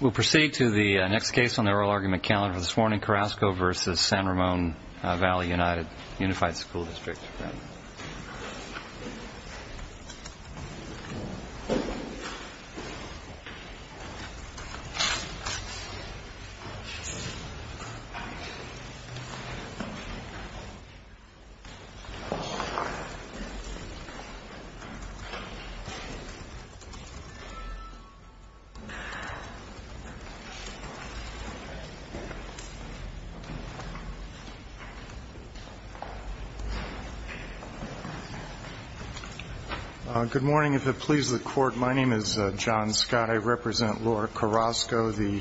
We'll proceed to the next case on the oral argument calendar for this morning. Carrasco v. San Ramon Valley United Unified School District. Good morning. If it pleases the court, my name is John Scott. I represent Laura Carrasco, the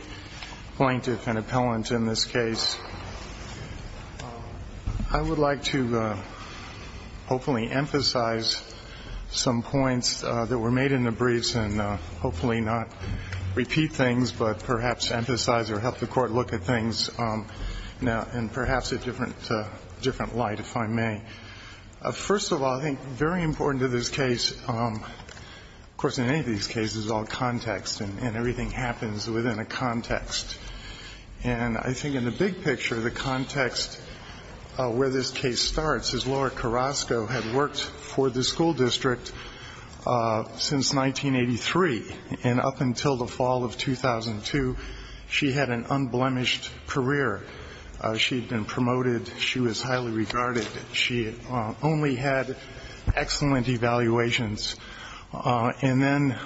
plaintiff and appellant in this case. I would like to hopefully emphasize some points that were made in the briefs and hopefully not repeat things. But perhaps emphasize or help the court look at things now in perhaps a different light, if I may. First of all, I think very important to this case, of course, in any of these cases, is all context and everything happens within a context. And I think in the big picture, the context where this case starts is Laura Carrasco had worked for the school district since 1983. And up until the fall of 2002, she had an unblemished career. She had been promoted. She was highly regarded. She only had excellent evaluations. And then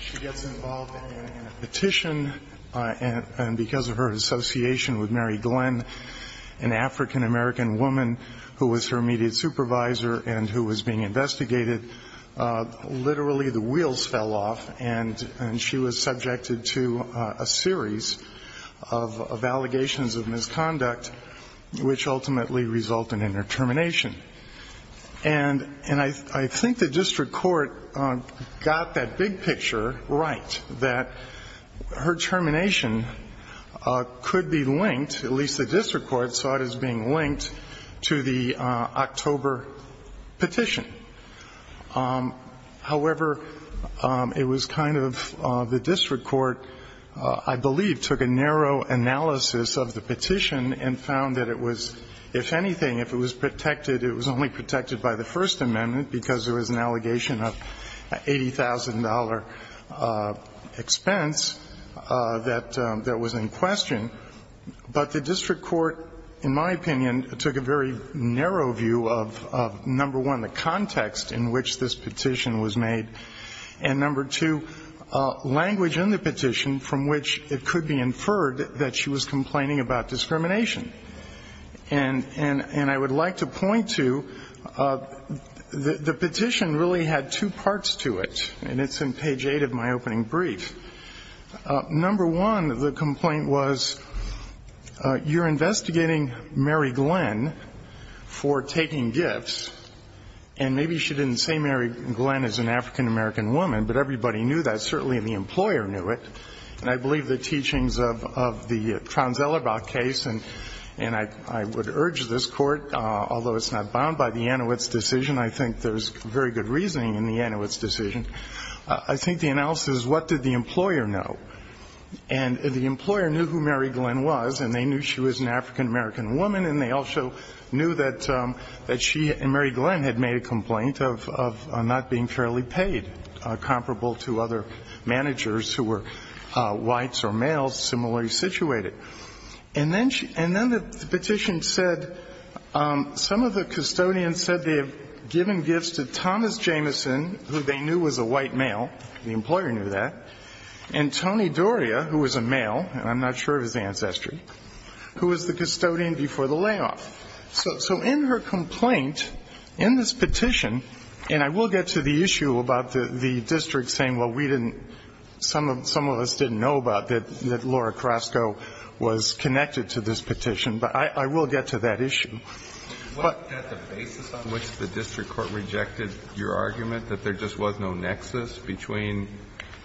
she gets involved in a petition, and because of her association with Mary Glenn, an African-American woman who was her immediate supervisor and who was being investigated, literally the wheels fell off and she was subjected to a series of allegations of misconduct, which ultimately resulted in her termination. And I think the district court got that big picture right, that her termination could be linked, at least the district court saw it as being linked, to the October petition. However, it was kind of the district court, I believe, took a narrow analysis of the petition and found that it was, if anything, if it was protected, it was only protected by the First Amendment because there was an allegation of $80,000 expense that was in question. But the district court, in my opinion, took a very narrow view of, number one, the context in which this petition was made, and, number two, language in the petition from which it could be inferred that she was complaining about discrimination. And I would like to point to the petition really had two parts to it, and it's in page 8 of my opening brief. Number one, the complaint was, you're investigating Mary Glenn for taking gifts, and maybe she didn't say Mary Glenn as an African-American woman, but everybody knew that. Certainly the employer knew it. And I believe the teachings of the Traunz-Ellerbach case, and I would urge this Court, although it's not bound by the Anowitz decision, I think there's very good reasoning in the Anowitz decision, I think the analysis is what did the employer know? And the employer knew who Mary Glenn was, and they knew she was an African-American woman, and they also knew that she and Mary Glenn had made a complaint of not being fairly paid, comparable to other managers who were whites or males, similarly situated. And then the petition said some of the custodians said they had given gifts to Thomas Jameson, who they knew was a white male, the employer knew that, and Tony Doria, who was a male, and I'm not sure of his ancestry, who was the custodian before the layoff. So in her complaint, in this petition, and I will get to the issue about the district saying, well, we didn't, some of us didn't know about that Laura Carrasco was connected to this petition, but I will get to that issue. But the basis on which the district court rejected your argument that there just was no nexus between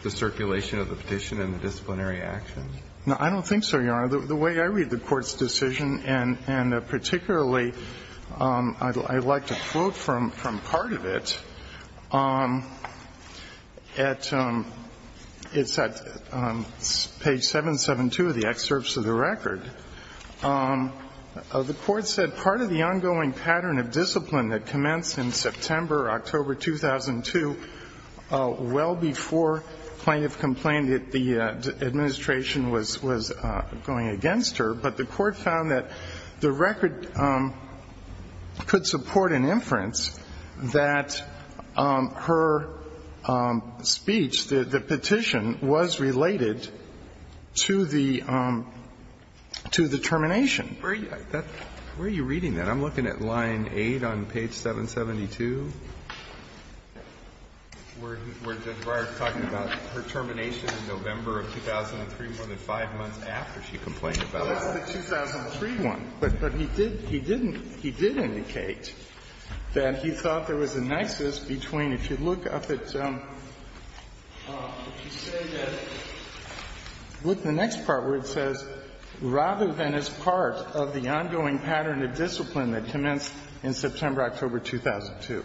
the circulation of the petition and the disciplinary action? No, I don't think so, Your Honor. The way I read the Court's decision, and particularly I'd like to quote from part of it. It's at page 772 of the excerpts of the record. The Court said, Part of the ongoing pattern of discipline that commenced in September, October 2002, well before plaintiff complained that the administration was going against her. But the Court found that the record could support an inference that her speech, the petition, was related to the termination. Where are you reading that? I'm looking at line 8 on page 772. Where Judge Breyer is talking about her termination in November of 2003, more than five months after she complained about it. Well, that's the 2003 one. But he did, he didn't, he did indicate that he thought there was a nexus between if you look up at, if you say that, look at the next part where it says, rather than as part of the ongoing pattern of discipline that commenced in September, October 2002.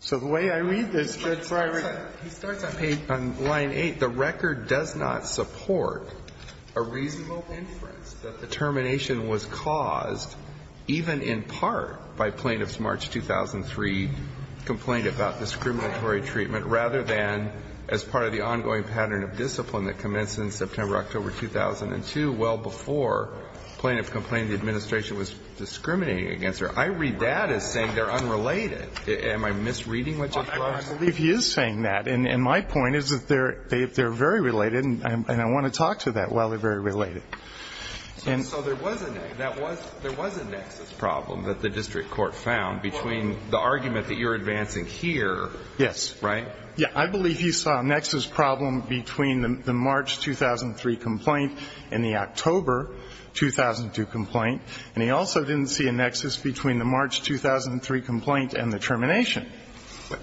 So the way I read this, Judge Breyer. He starts on page, on line 8. The record does not support a reasonable inference that the termination was caused even in part by plaintiff's March 2003 complaint about discriminatory treatment, rather than as part of the ongoing pattern of discipline that commenced in September, October 2002, well before plaintiff complained the administration was discriminating against her. I read that as saying they're unrelated. Am I misreading what Judge Breyer is saying? Well, I believe he is saying that. And my point is that they're very related. And I want to talk to that while they're very related. So there was a nexus problem that the district court found between the argument that you're advancing here. Yes. Right? Yeah. I believe he saw a nexus problem between the March 2003 complaint and the October 2002 complaint. And he also didn't see a nexus between the March 2003 complaint and the termination.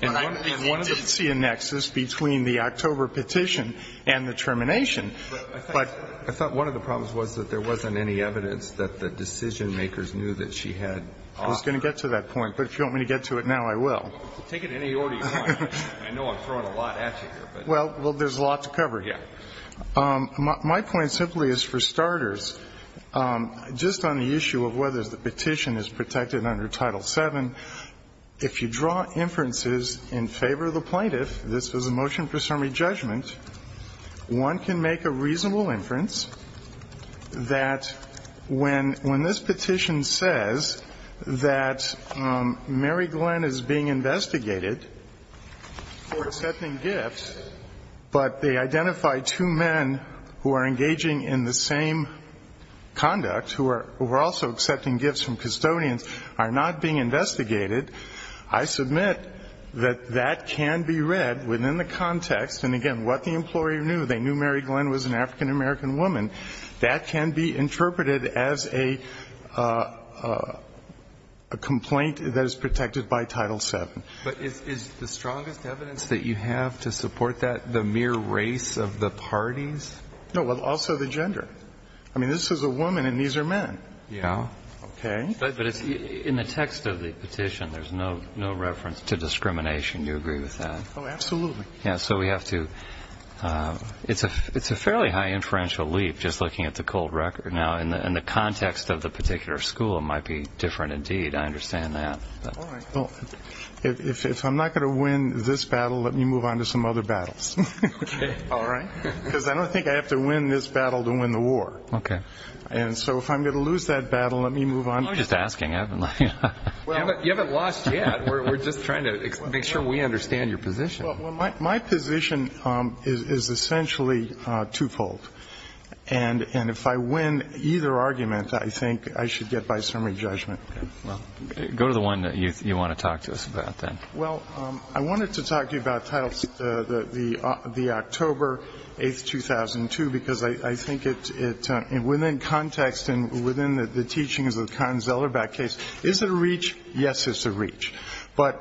And he did see a nexus between the October petition and the termination. But I thought one of the problems was that there wasn't any evidence that the decision makers knew that she had options. I was going to get to that point. But if you want me to get to it now, I will. Take it in any order you want. I know I'm throwing a lot at you here. Well, there's a lot to cover here. Yeah. My point simply is for starters, just on the issue of whether the petition is protected under Title VII, if you draw inferences in favor of the plaintiff, this was a motion for summary judgment, one can make a reasonable inference that when this petition says that Mary Glenn is being investigated for accepting gifts, but they identify two men who are engaging in the same conduct, who are also accepting gifts from custodians, are not being investigated, I submit that that can be read within the context. And, again, what the employer knew, they knew Mary Glenn was an African-American woman, that can be interpreted as a complaint that is protected by Title VII. But is the strongest evidence that you have to support that the mere race of the parties? No. Well, also the gender. I mean, this is a woman and these are men. Yeah. Okay. But in the text of the petition, there's no reference to discrimination. Do you agree with that? Oh, absolutely. Yeah, so we have to, it's a fairly high inferential leap just looking at the cold record. Now, in the context of the particular school, it might be different indeed. I understand that. All right. Well, if I'm not going to win this battle, let me move on to some other battles. Okay. All right? Because I don't think I have to win this battle to win the war. Okay. And so if I'm going to lose that battle, let me move on. I'm just asking. You haven't lost yet. We're just trying to make sure we understand your position. Well, my position is essentially twofold. And if I win either argument, I think I should get by summary judgment. Okay. Well, go to the one that you want to talk to us about then. Well, I wanted to talk to you about the October 8th, 2002, because I think within context and within the teachings of the Cotton-Zellerbach case, is it a reach? Yes, it's a reach. But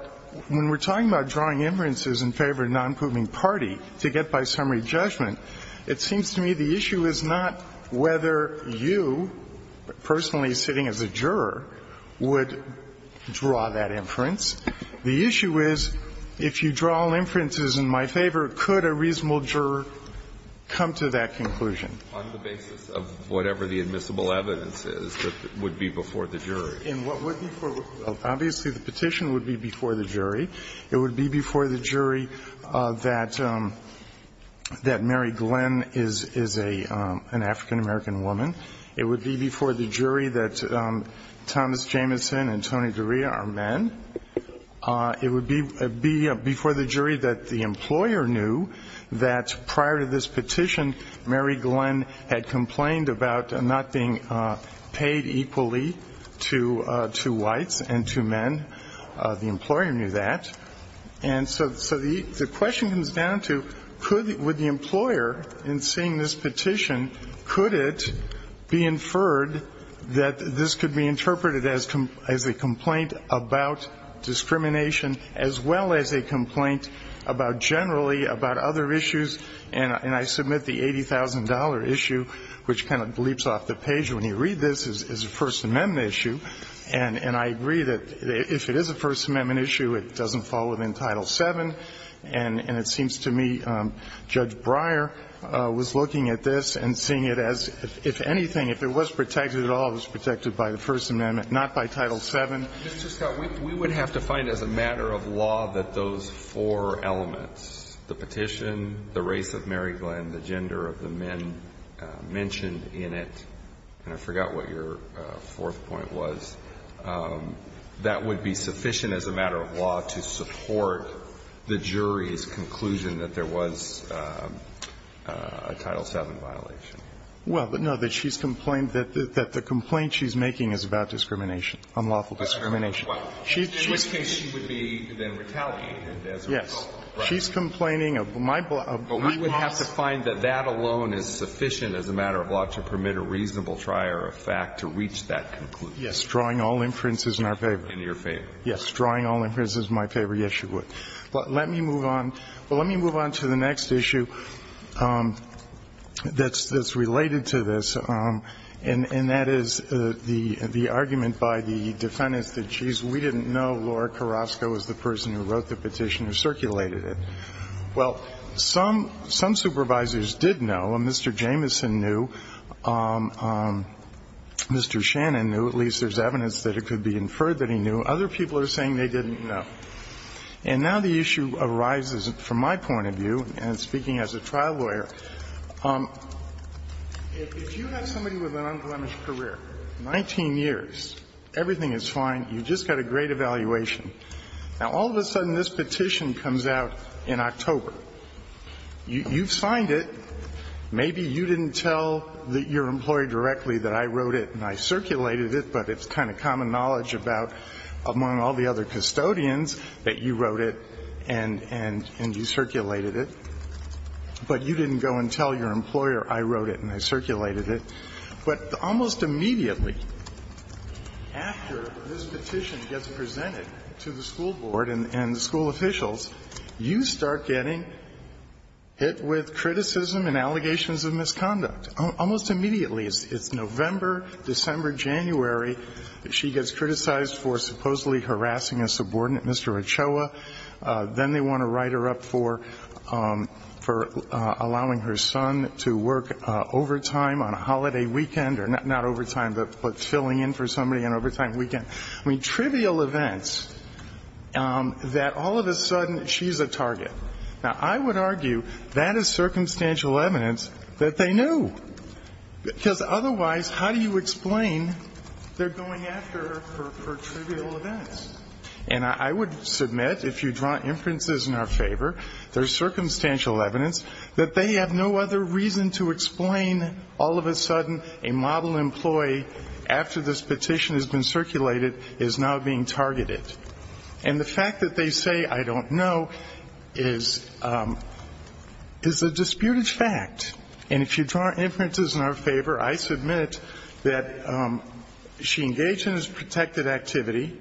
when we're talking about drawing inferences in favor of a nonproving party to get by summary judgment, it seems to me the issue is not whether you personally sitting as a juror would draw that inference. The issue is if you draw inferences in my favor, could a reasonable juror come to that conclusion? On the basis of whatever the admissible evidence is that would be before the jury. Obviously, the petition would be before the jury. It would be before the jury that Mary Glenn is an African-American woman. It would be before the jury that Thomas Jamison and Tony D'Orea are men. It would be before the jury that the employer knew that prior to this petition, Mary Glenn had complained about not being paid equally to whites and to men. The employer knew that. And so the question comes down to, with the employer in seeing this petition, could it be inferred that this could be interpreted as a complaint about discrimination as well as a complaint about generally about other issues? And I submit the $80,000 issue, which kind of bleeps off the page when you read this, is a First Amendment issue. And I agree that if it is a First Amendment issue, it doesn't fall within Title 7. And it seems to me Judge Breyer was looking at this and seeing it as, if anything, if it was protected at all, it was protected by the First Amendment, not by Title 7. And so, I think, you know, we have to find as a matter of law that those four elements, the petition, the race of Mary Glenn, the gender of the men mentioned in it, and I forgot what your fourth point was, that would be sufficient as a matter of law to support the jury's conclusion that there was a Title 7 violation. Well, no. That she's complained that the complaint she's making is about discrimination, unlawful discrimination. And in this case, she would be then retaliated as a result. Yes. She's complaining of my loss. But we would have to find that that alone is sufficient as a matter of law to permit a reasonable trier of fact to reach that conclusion. Yes. Drawing all inferences in our favor. In your favor. Drawing all inferences in my favor. Yes, you would. Let me move on. Well, let me move on to the next issue that's related to this, and that is the argument by the defendants that, geez, we didn't know Laura Carrasco was the person who wrote the petition or circulated it. Well, some supervisors did know, and Mr. Jameson knew, Mr. Shannon knew, at least there's evidence that it could be inferred that he knew. Other people are saying they didn't know. And now the issue arises, from my point of view, and speaking as a trial lawyer, if you have somebody with an unblemished career, 19 years, everything is fine, you've just got a great evaluation. Now, all of a sudden, this petition comes out in October. You've signed it. Maybe you didn't tell your employee directly that I wrote it and I circulated it, but it's kind of common knowledge about, among all the other custodians, that you wrote it and you circulated it. But you didn't go and tell your employer I wrote it and I circulated it. But almost immediately after this petition gets presented to the school board and the school officials, you start getting hit with criticism and allegations of misconduct. Almost immediately. It's November, December, January, she gets criticized for supposedly harassing a subordinate, Mr. Ochoa. Then they want to write her up for allowing her son to work overtime on a holiday weekend, or not overtime, but filling in for somebody on an overtime weekend. I mean, trivial events that all of a sudden she's a target. Now, I would argue that is circumstantial evidence that they knew. Because otherwise, how do you explain they're going after her for trivial events? And I would submit, if you draw inferences in our favor, there's circumstantial evidence that they have no other reason to explain all of a sudden a model employee after this petition has been circulated is now being targeted. And the fact that they say, I don't know, is a disputed fact. And if you draw inferences in our favor, I submit that she engaged in this protected activity.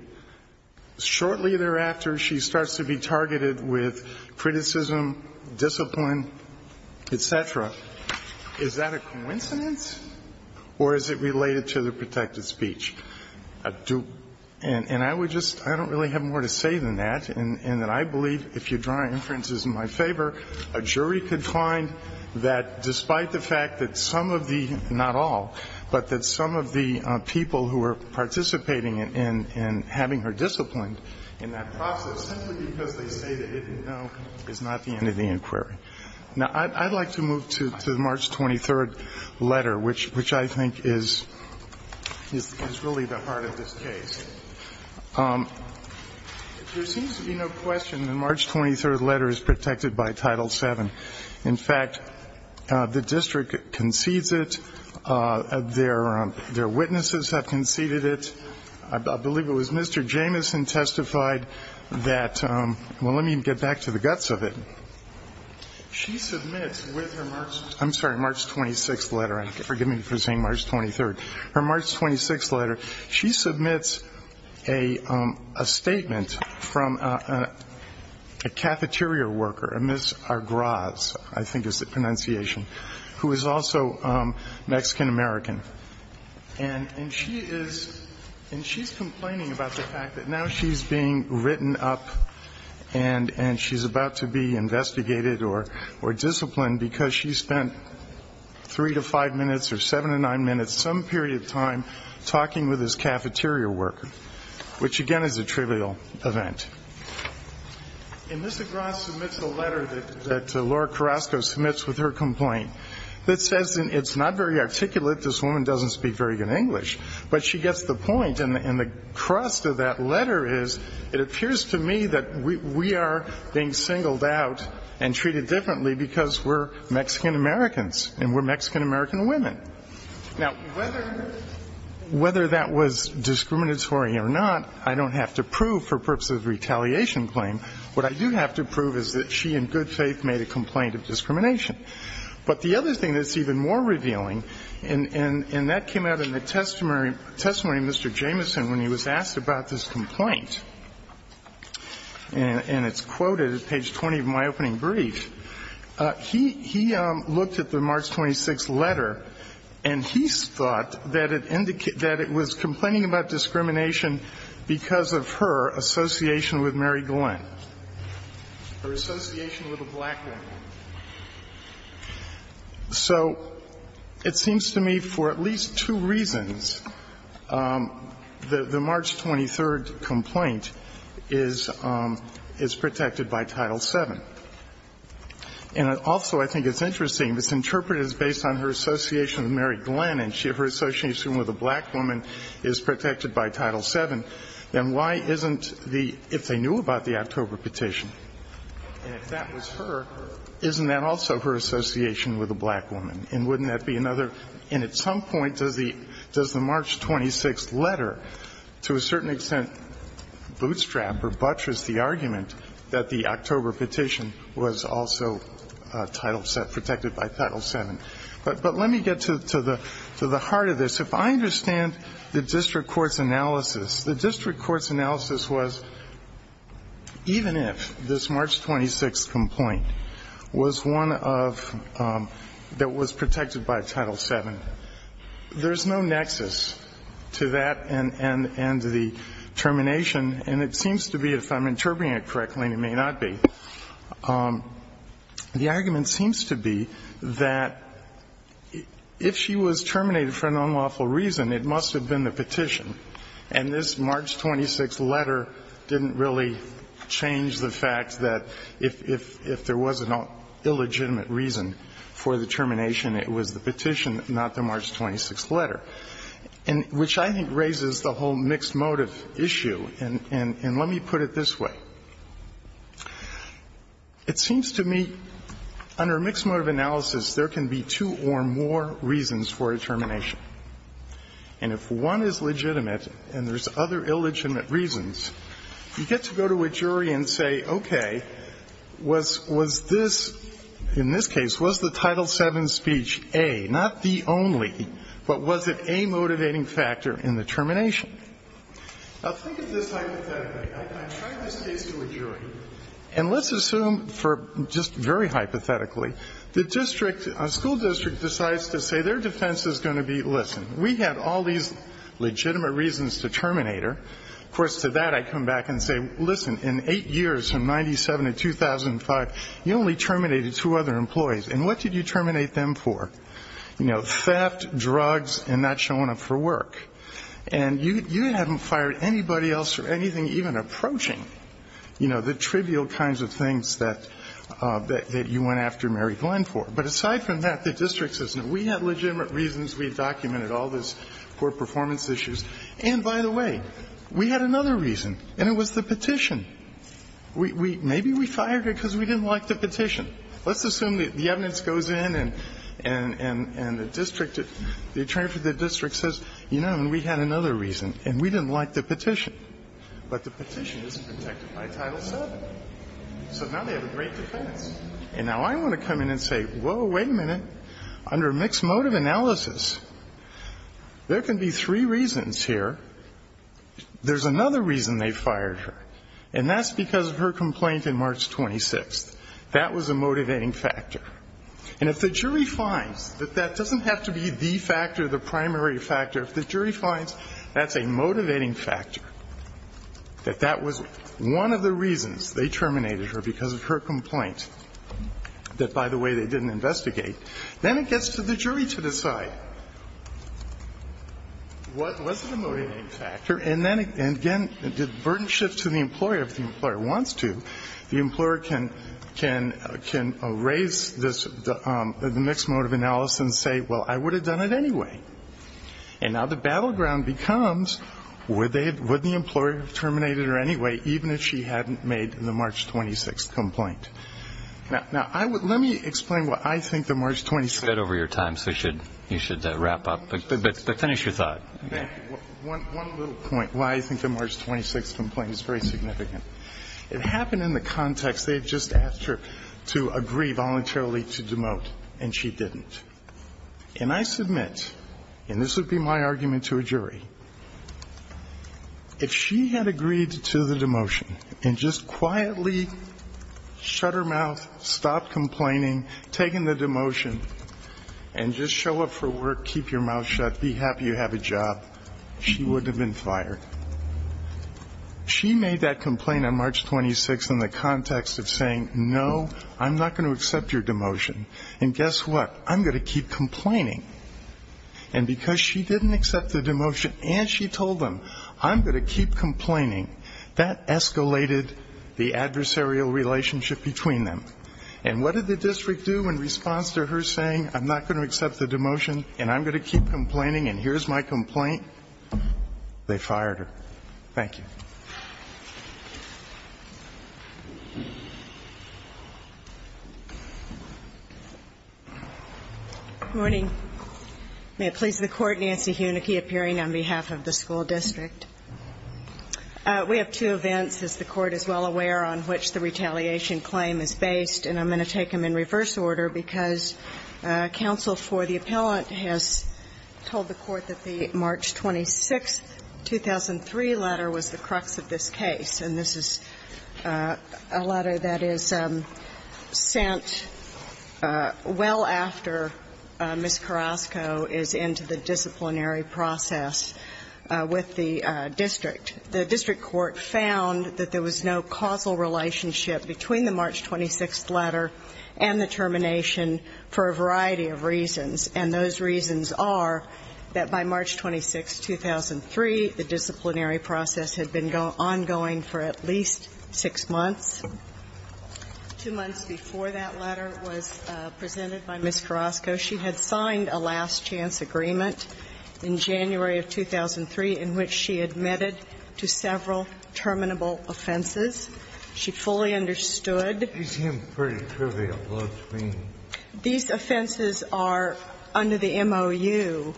Shortly thereafter, she starts to be targeted with criticism, discipline, et cetera. Is that a coincidence? Or is it related to the protected speech? And I would just, I don't really have more to say than that. And that I believe, if you draw inferences in my favor, a jury could find that despite the fact that some of the, not all, but that some of the people who are participating in having her disciplined in that process, simply because they say that it is not the end of the inquiry. Now, I'd like to move to the March 23rd letter, which I think is really the heart of this case. There seems to be no question the March 23rd letter is protected by Title VII. In fact, the district concedes it. Their witnesses have conceded it. I believe it was Mr. Jamison testified that, well, let me get back to the guts of it. She submits with her March, I'm sorry, March 26th letter. Forgive me for saying March 23rd. Her March 26th letter, she submits a statement from a cafeteria worker, a Ms. Argraz, I think is the pronunciation, who is also Mexican-American. And she is, and she's complaining about the fact that now she's being written up and she's about to be investigated or disciplined because she spent three to five minutes or seven to nine minutes, some period of time talking with this cafeteria worker, which, again, is a trivial event. And Ms. Argraz submits a letter that Laura Carrasco submits with her complaint that says it's not very articulate. This woman doesn't speak very good English. But she gets the point. And the crust of that letter is it appears to me that we are being singled out and treated differently because we're Mexican-Americans and we're Mexican-American women. Now, whether that was discriminatory or not, I don't have to prove for purposes of retaliation claim. What I do have to prove is that she in good faith made a complaint of discrimination. But the other thing that's even more revealing, and that came out in the testimony of Mr. Jameson when he was asked about this complaint, and it's quoted at page 20 of my opening brief, he looked at the March 26th letter and he thought that it indicated that it was complaining about discrimination because of her association with Mary Glenn, her association with a black man. So it seems to me, for at least two reasons, the March 23rd complaint is protected by Title VII. And also I think it's interesting, it's interpreted as based on her association with Mary Glenn and her association with a black woman is protected by Title VII. Then why isn't the --" if they knew about the October petition, and if that was her, isn't that also her association with a black woman? And wouldn't that be another? And at some point, does the March 26th letter, to a certain extent, bootstrap or buttress the argument that the October petition was also Title VII, protected by Title VII? But let me get to the heart of this. Even if this March 26th complaint was one of the ones protected by Title VII, there's no nexus to that and to the termination. And it seems to be, if I'm interpreting it correctly, and it may not be, the argument seems to be that if she was terminated for an unlawful reason, it must have been the petition, and this March 26th letter didn't really change the fact that if there was an illegitimate reason for the termination, it was the petition, not the March 26th letter, which I think raises the whole mixed motive issue. And let me put it this way. It seems to me under mixed motive analysis, there can be two or more reasons for a termination. And if one is legitimate and there's other illegitimate reasons, you get to go to a jury and say, okay, was this, in this case, was the Title VII speech A, not the only, but was it a motivating factor in the termination? Now, think of this hypothetically. I tried this case to a jury, and let's assume for just very hypothetically, the district, a school district decides to say their defense is going to be, listen, we have all these legitimate reasons to terminate her. Of course, to that I come back and say, listen, in eight years from 97 to 2005, you only terminated two other employees, and what did you terminate them for? You know, theft, drugs, and not showing up for work. And you haven't fired anybody else or anything even approaching, you know, the trivial kinds of things that you went after Mary Glenn for. But aside from that, the district says, no, we have legitimate reasons. We've documented all these poor performance issues. And by the way, we had another reason, and it was the petition. Maybe we fired her because we didn't like the petition. Let's assume that the evidence goes in and the district, the attorney for the district says, you know, we had another reason, and we didn't like the petition. But the petition isn't protected by Title VII. So now they have a great defense. And now I want to come in and say, whoa, wait a minute. Under mixed motive analysis, there can be three reasons here. There's another reason they fired her, and that's because of her complaint in March 26th. That was a motivating factor. And if the jury finds that that doesn't have to be the factor, the primary factor, if the jury finds that's a motivating factor, that that was one of the reasons they terminated her because of her complaint that, by the way, they didn't investigate, then it gets to the jury to decide. Was it a motivating factor? And then, again, the burden shifts to the employer. If the employer wants to, the employer can raise this, the mixed motive analysis and say, well, I would have done it anyway. And now the battleground becomes, would the employer have terminated her anyway, even if she hadn't made the March 26th complaint? Now, let me explain why I think the March 26th complaint is very significant. It happened in the context they had just asked her to agree voluntarily to demote, and she didn't. And I submit, and this would be my argument to a jury, if she had agreed to the demotion and just quietly shut her mouth, stopped complaining, taken the demotion, and just show up for work, keep your mouth shut, be happy you have a job, she wouldn't have been fired. She made that complaint on March 26th in the context of saying, no, I'm not going to accept your demotion. And guess what? I'm going to keep complaining. And because she didn't accept the demotion and she told them, I'm going to keep complaining, that escalated the adversarial relationship between them. And what did the district do in response to her saying, I'm not going to accept the demotion and I'm going to keep complaining and here's my complaint? They fired her. Thank you. Thank you. Good morning. May it please the Court, Nancy Hunicke appearing on behalf of the school district. We have two events, as the Court is well aware, on which the retaliation claim is based, and I'm going to take them in reverse order because counsel for the appellant has told the Court that the March 26th, 2003 letter was the crux of this case. And this is a letter that is sent well after Ms. Carrasco is into the disciplinary process with the district. The district court found that there was no causal relationship between the March 26th letter and the termination for a variety of reasons, and those reasons are that by March 26th, 2003, the disciplinary process had been ongoing for at least six months. Two months before that letter was presented by Ms. Carrasco, she had signed a last-chance agreement in January of 2003 in which she admitted to several terminable offenses. She fully understood. These seem pretty trivial to me. These offenses are, under the MOU,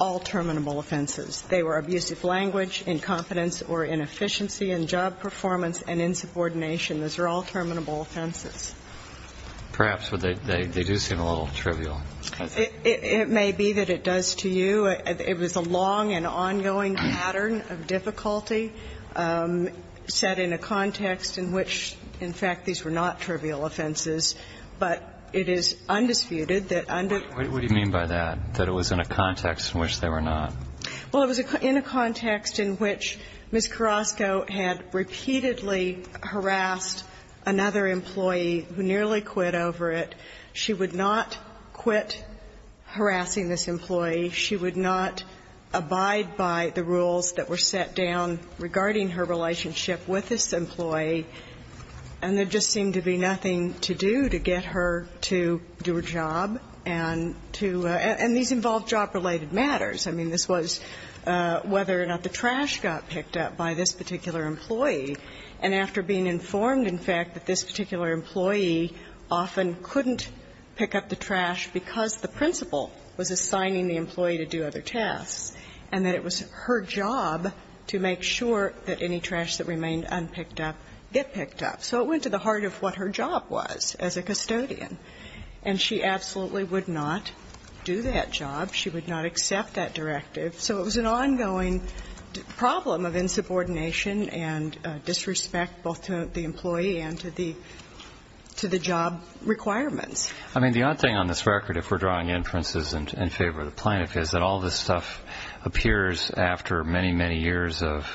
all terminable offenses. They were abusive language, incompetence or inefficiency in job performance and insubordination. Those are all terminable offenses. Perhaps they do seem a little trivial. It may be that it does to you. It was a long and ongoing pattern of difficulty set in a context in which, in fact, these were not trivial offenses, but it is undisputed that under the context in which they were not. Well, it was in a context in which Ms. Carrasco had repeatedly harassed another employee who nearly quit over it. She would not quit harassing this employee. She would not abide by the rules that were set down regarding her relationship with this employee. And there just seemed to be nothing to do to get her to do her job and to – and these involved job-related matters. I mean, this was whether or not the trash got picked up by this particular employee. And after being informed, in fact, that this particular employee often couldn't pick up the trash because the principal was assigning the employee to do other tasks and that it was her job to make sure that any trash that remained unpicked up get picked up. So it went to the heart of what her job was as a custodian. And she absolutely would not do that job. She would not accept that directive. So it was an ongoing problem of insubordination and disrespect both to the employee and to the – to the job requirements. I mean, the odd thing on this record, if we're drawing inferences in favor of the plaintiff, is that all this stuff appears after many, many years of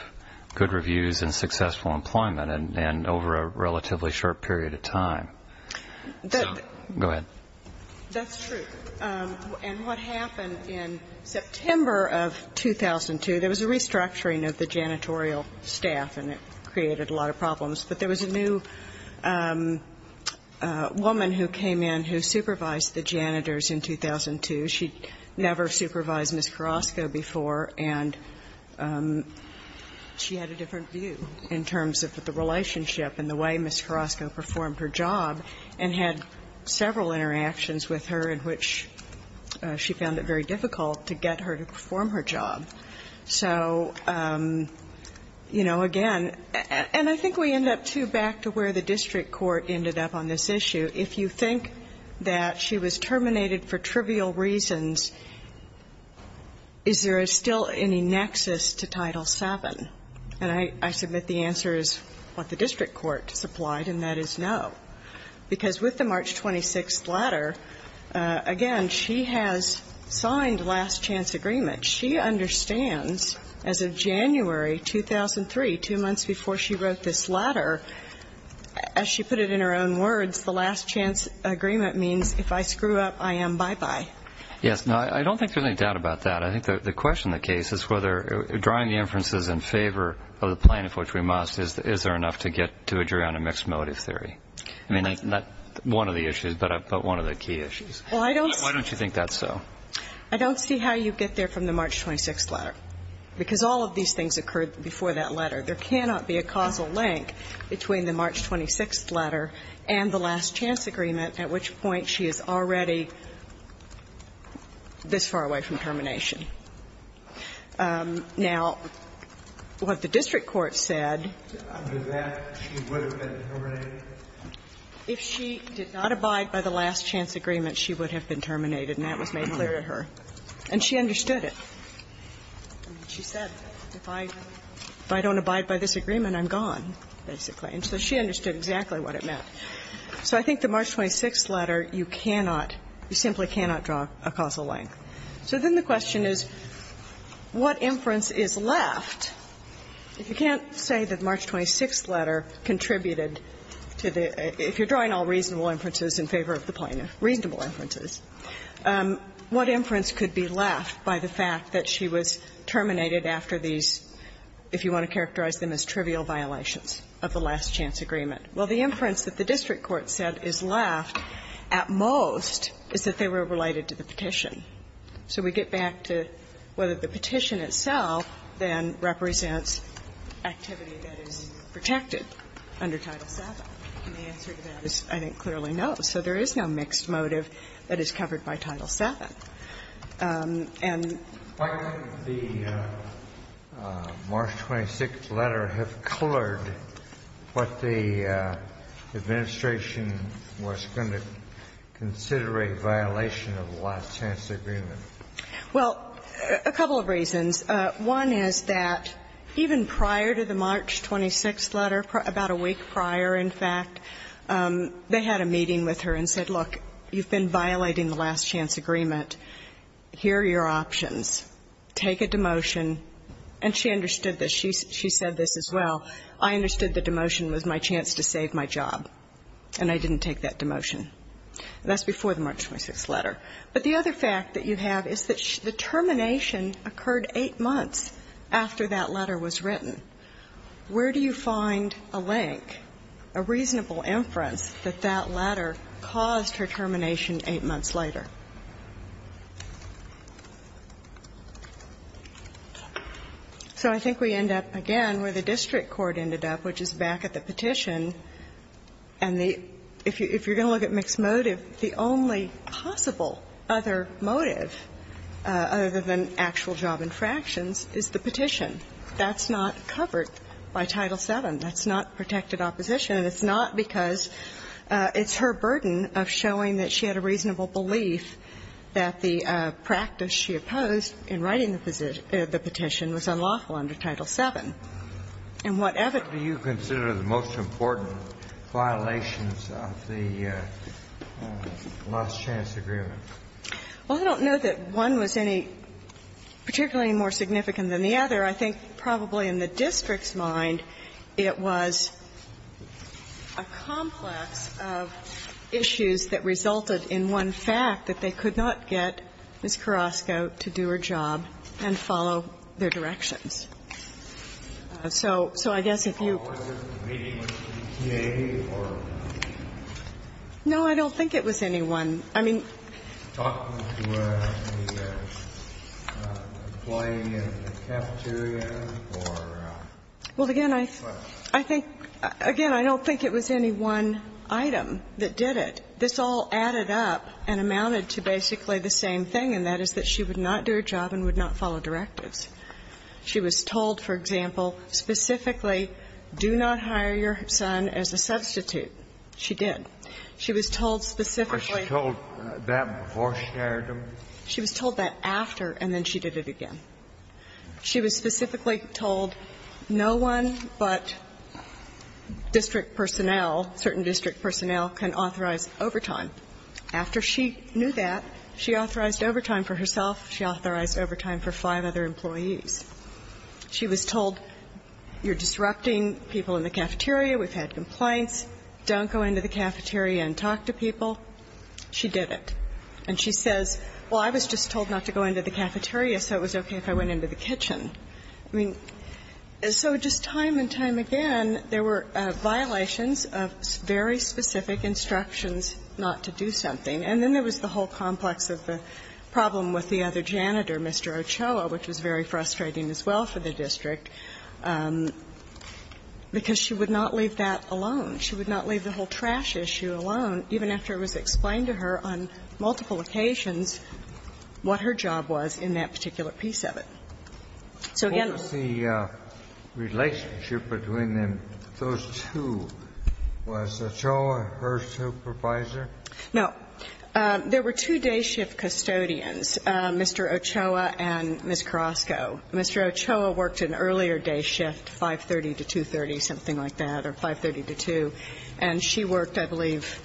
good reviews and successful employment and over a relatively short period of time. Go ahead. That's true. And what happened in September of 2002, there was a restructuring of the janitorial staff, and it created a lot of problems. But there was a new woman who came in who supervised the janitors in 2002. She'd never supervised Ms. Carrasco before, and she had a different view in terms of the relationship and the way Ms. Carrasco performed her job and had several interactions with her in which she found it very difficult to get her to perform her job. So, you know, again, and I think we end up, too, back to where the district court ended up on this issue. If you think that she was terminated for trivial reasons, is there still any nexus to Title VII? And I submit the answer is what the district court supplied, and that is no, because with the March 26th letter, again, she has signed last-chance agreement. She understands as of January 2003, two months before she wrote this letter, as she put it in her own words, the last-chance agreement means if I screw up, I am bye-bye. Yes. No, I don't think there's any doubt about that. I think the question of the case is whether drawing the inferences in favor of the plan, of which we must, is there enough to get to a jury on a mixed motive theory? I mean, that's not one of the issues, but one of the key issues. Well, I don't see. Why don't you think that's so? I don't see how you get there from the March 26th letter. Because all of these things occurred before that letter. There cannot be a causal link between the March 26th letter and the last-chance agreement, at which point she is already this far away from termination. Now, what the district court said. Under that, she would have been terminated? If she did not abide by the last-chance agreement, she would have been terminated, and that was made clear to her. And she understood it. She said, if I don't abide by this agreement, I'm gone, basically. And so she understood exactly what it meant. So I think the March 26th letter, you cannot, you simply cannot draw a causal link. So then the question is, what inference is left? If you can't say that the March 26th letter contributed to the, if you're drawing all reasonable inferences in favor of the plaintiff, reasonable inferences, what inference could be left by the fact that she was terminated after these, if you want to characterize them as trivial violations of the last-chance agreement? Well, the inference that the district court said is left at most is that they were related to the petition. So we get back to whether the petition itself then represents activity that is protected under Title VII, and the answer to that is, I think, clearly no. So there is no mixed motive that is covered by Title VII. And the March 26th letter has colored what the administration was going to consider a violation of the last-chance agreement. Well, a couple of reasons. One is that even prior to the March 26th letter, about a week prior, in fact, they had a meeting with her and said, look, you've been violating the last-chance agreement, here are your options, take a demotion. And she understood this. She said this as well. I understood the demotion was my chance to save my job, and I didn't take that demotion. That's before the March 26th letter. But the other fact that you have is that the termination occurred eight months after that letter was written. Where do you find a link, a reasonable inference that that letter caused her termination eight months later? So I think we end up again where the district court ended up, which is back at the only possible other motive other than actual job infractions is the petition. That's not covered by Title VII. That's not protected opposition. And it's not because it's her burden of showing that she had a reasonable belief that the practice she opposed in writing the petition was unlawful under Title VII. And what evidence do you consider the most important violations of the last-chance agreement? Well, I don't know that one was any particularly more significant than the other. I think probably in the district's mind, it was a complex of issues that resulted in one fact, that they could not get Ms. Carrasco to do her job and follow their directions. So I guess if you ---- Was this a meeting with the community or ---- No, I don't think it was any one. I mean ---- Talking to an employee in the cafeteria or ---- Well, again, I think ---- What? Again, I don't think it was any one item that did it. This all added up and amounted to basically the same thing, and that is that she would not do her job and would not follow directives. She was told, for example, specifically, do not hire your son as a substitute. She did. She was told specifically ---- But she told that before she hired him? She was told that after, and then she did it again. She was specifically told no one but district personnel, certain district personnel, can authorize overtime. After she knew that, she authorized overtime for herself, she authorized overtime for five other employees. She was told, you're disrupting people in the cafeteria, we've had complaints, don't go into the cafeteria and talk to people. She did it. And she says, well, I was just told not to go into the cafeteria, so it was okay if I went into the kitchen. I mean, so just time and time again, there were violations of very specific instructions not to do something. And then there was the whole complex of the problem with the other janitor, Mr. Ochoa, which was very frustrating as well for the district, because she would not leave that alone. She would not leave the whole trash issue alone, even after it was explained to her on multiple occasions what her job was in that particular piece of it. So, again ---- Kennedy, what was the relationship between those two? Was Ochoa her supervisor? No. There were two day shift custodians, Mr. Ochoa and Ms. Carrasco. Mr. Ochoa worked an earlier day shift, 5.30 to 2.30, something like that, or 5.30 to 2.00, and she worked, I believe,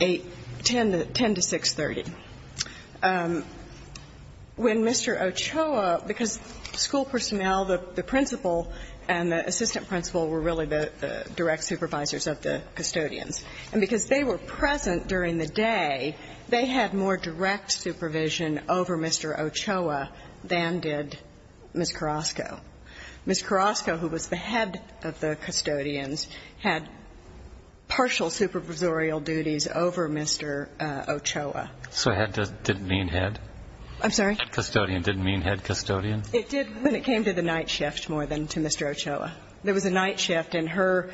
8.00, 10.00 to 6.30. When Mr. Ochoa, because school personnel, the principal and the assistant principal were really the direct supervisors of the custodians, and because they were present during the day, they had more direct supervision over Mr. Ochoa than did Ms. Carrasco. Ms. Carrasco, who was the head of the custodians, had partial supervisorial duties over Mr. Ochoa. So head didn't mean head? I'm sorry? Head custodian didn't mean head custodian? It did when it came to the night shift more than to Mr. Ochoa. There was a night shift, and her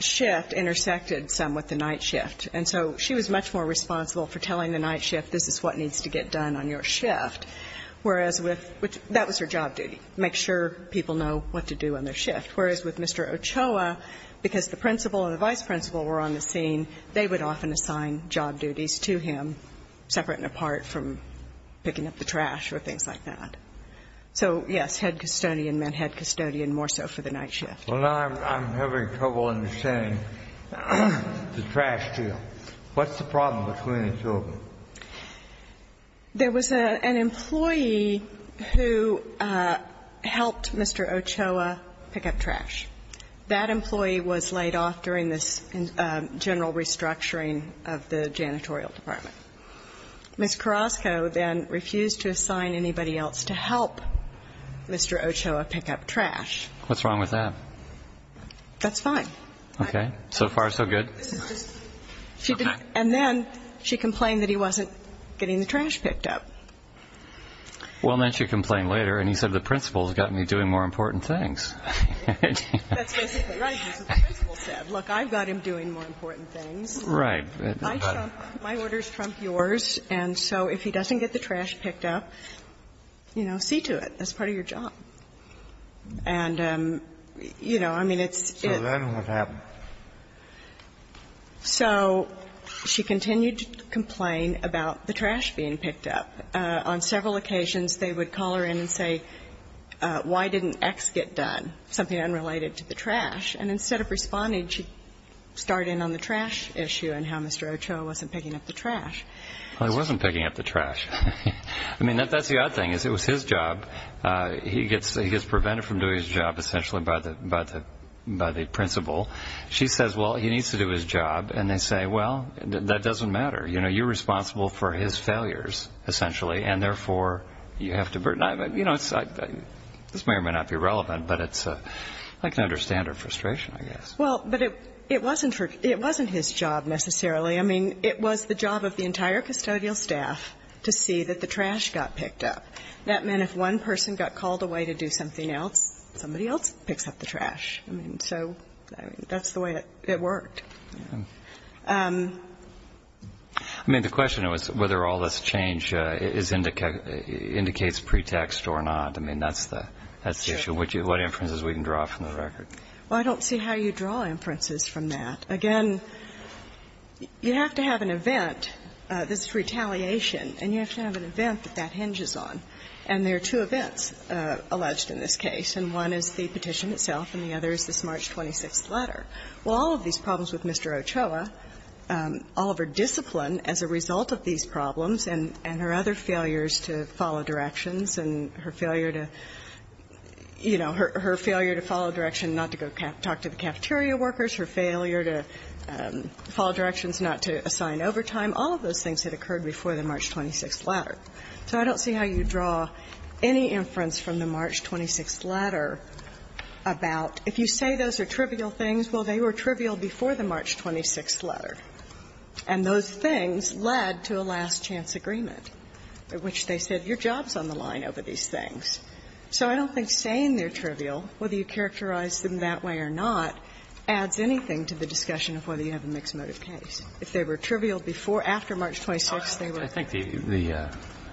shift intersected some with the night shift. And so she was much more responsible for telling the night shift, this is what needs to get done on your shift, whereas with Mr. Ochoa, because the principal and the vice principal were on the scene, they would often assign job duties to him, separate and apart from picking up the trash or things like that. So, yes, head custodian meant head custodian more so for the night shift. Well, now I'm having trouble understanding the trash deal. What's the problem between the two of them? There was an employee who helped Mr. Ochoa pick up trash. That employee was laid off during this general restructuring of the janitorial department. Ms. Carrasco then refused to assign anybody else to help Mr. Ochoa pick up trash. What's wrong with that? That's fine. Okay. So far, so good. And then she complained that he wasn't getting the trash picked up. Well, then she complained later, and he said the principal has got me doing more important things. That's basically what the principal said. Look, I've got him doing more important things. Right. My orders trump yours. And so if he doesn't get the trash picked up, you know, see to it. That's part of your job. And, you know, I mean, it's its. So then what happened? So she continued to complain about the trash being picked up. On several occasions, they would call her in and say, why didn't X get done, something unrelated to the trash. And instead of responding, she starred in on the trash issue and how Mr. Ochoa wasn't picking up the trash. Well, he wasn't picking up the trash. I mean, that's the odd thing, is it was his job. He gets prevented from doing his job, essentially, by the principal. She says, well, he needs to do his job. And they say, well, that doesn't matter. You know, you're responsible for his failures, essentially, and, therefore, you have to burden him. You know, this may or may not be relevant, but it's a I can understand her frustration, I guess. Well, but it wasn't her. It wasn't his job, necessarily. I mean, it was the job of the entire custodial staff to see that the trash got picked up. That meant if one person got called away to do something else, somebody else picks up the trash. I mean, so that's the way it worked. I mean, the question was whether all this change indicates pretext or not. I mean, that's the issue. What inferences can we draw from the record? Well, I don't see how you draw inferences from that. Again, you have to have an event. This is retaliation. And you have to have an event that that hinges on. And there are two events alleged in this case. And one is the petition itself, and the other is this March 26th letter. Well, all of these problems with Mr. Ochoa, all of her discipline as a result of these problems and her other failures to follow directions and her failure to, you know, her failure to follow direction not to go talk to the cafeteria workers, her failure to follow directions not to assign overtime, all of those things that occurred before the March 26th letter. So I don't see how you draw any inference from the March 26th letter about, if you say those are trivial things, well, they were trivial before the March 26th letter. And those things led to a last-chance agreement, which they said, your job is on the So I don't think saying they're trivial, whether you characterize them that way or not, adds anything to the discussion of whether you have a mixed motive case. If they were trivial before or after March 26th, they were. I think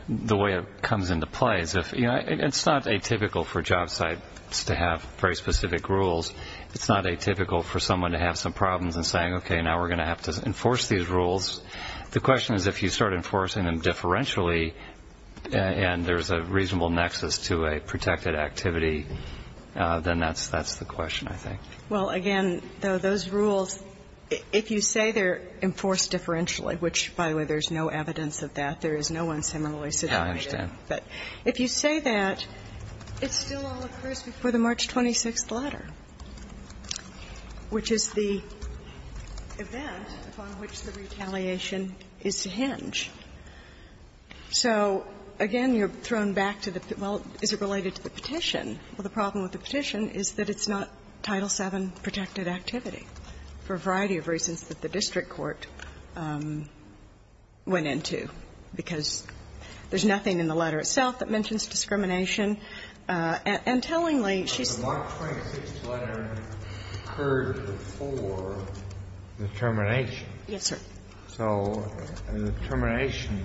the way it comes into play is if, you know, it's not atypical for job sites to have very specific rules. It's not atypical for someone to have some problems in saying, okay, now we're going to have to enforce these rules. The question is if you start enforcing them differentially and there's a reasonable nexus to a protected activity, then that's the question, I think. Well, again, though, those rules, if you say they're enforced differentially, which, by the way, there's no evidence of that. There is no one similarly situated. Yeah, I understand. But if you say that, it still all occurs before the March 26th letter, which is the event upon which the retaliation is to hinge. So, again, you're thrown back to the, well, is it related to the petition? Well, the problem with the petition is that it's not Title VII protected activity for a variety of reasons that the district court went into, because there's nothing in the letter itself that mentions discrimination. And tellingly, she's the one that's not. Kennedy, did you have a question about the termination? Yes, sir. So the termination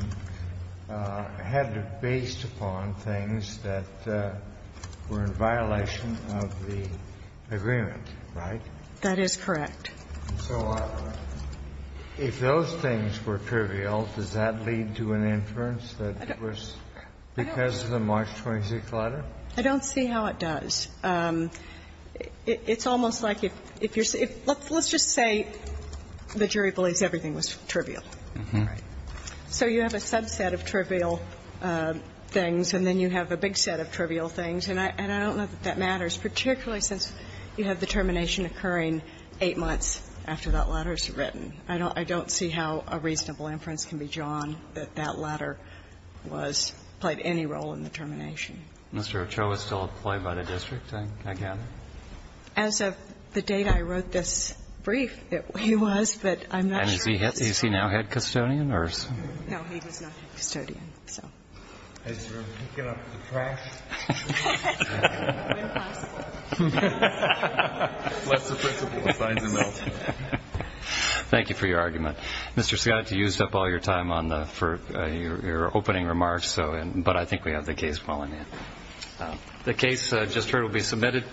had it based upon things that were in violation of the agreement. So if those things were trivial, does that lead to an inference that it was because of the March 26th letter? I don't see how it does. It's almost like if you're saying, let's just say the jury believes everything was trivial. So you have a subset of trivial things, and then you have a big set of trivial things, and I don't know that that matters, particularly since you have the termination occurring eight months after that letter is written. I don't see how a reasonable inference can be drawn that that letter was, played any role in the termination. Mr. Ochoa is still employed by the district, I gather? As of the date I wrote this brief, he was, but I'm not sure. And is he now head custodian or is he? No, he is not head custodian, so. Has he been picking up the trash? That's the principle of signs and notes. Thank you for your argument. Mr. Scott, you used up all your time on the for your opening remarks, so, but I think we have the case falling in. The case just heard will be submitted.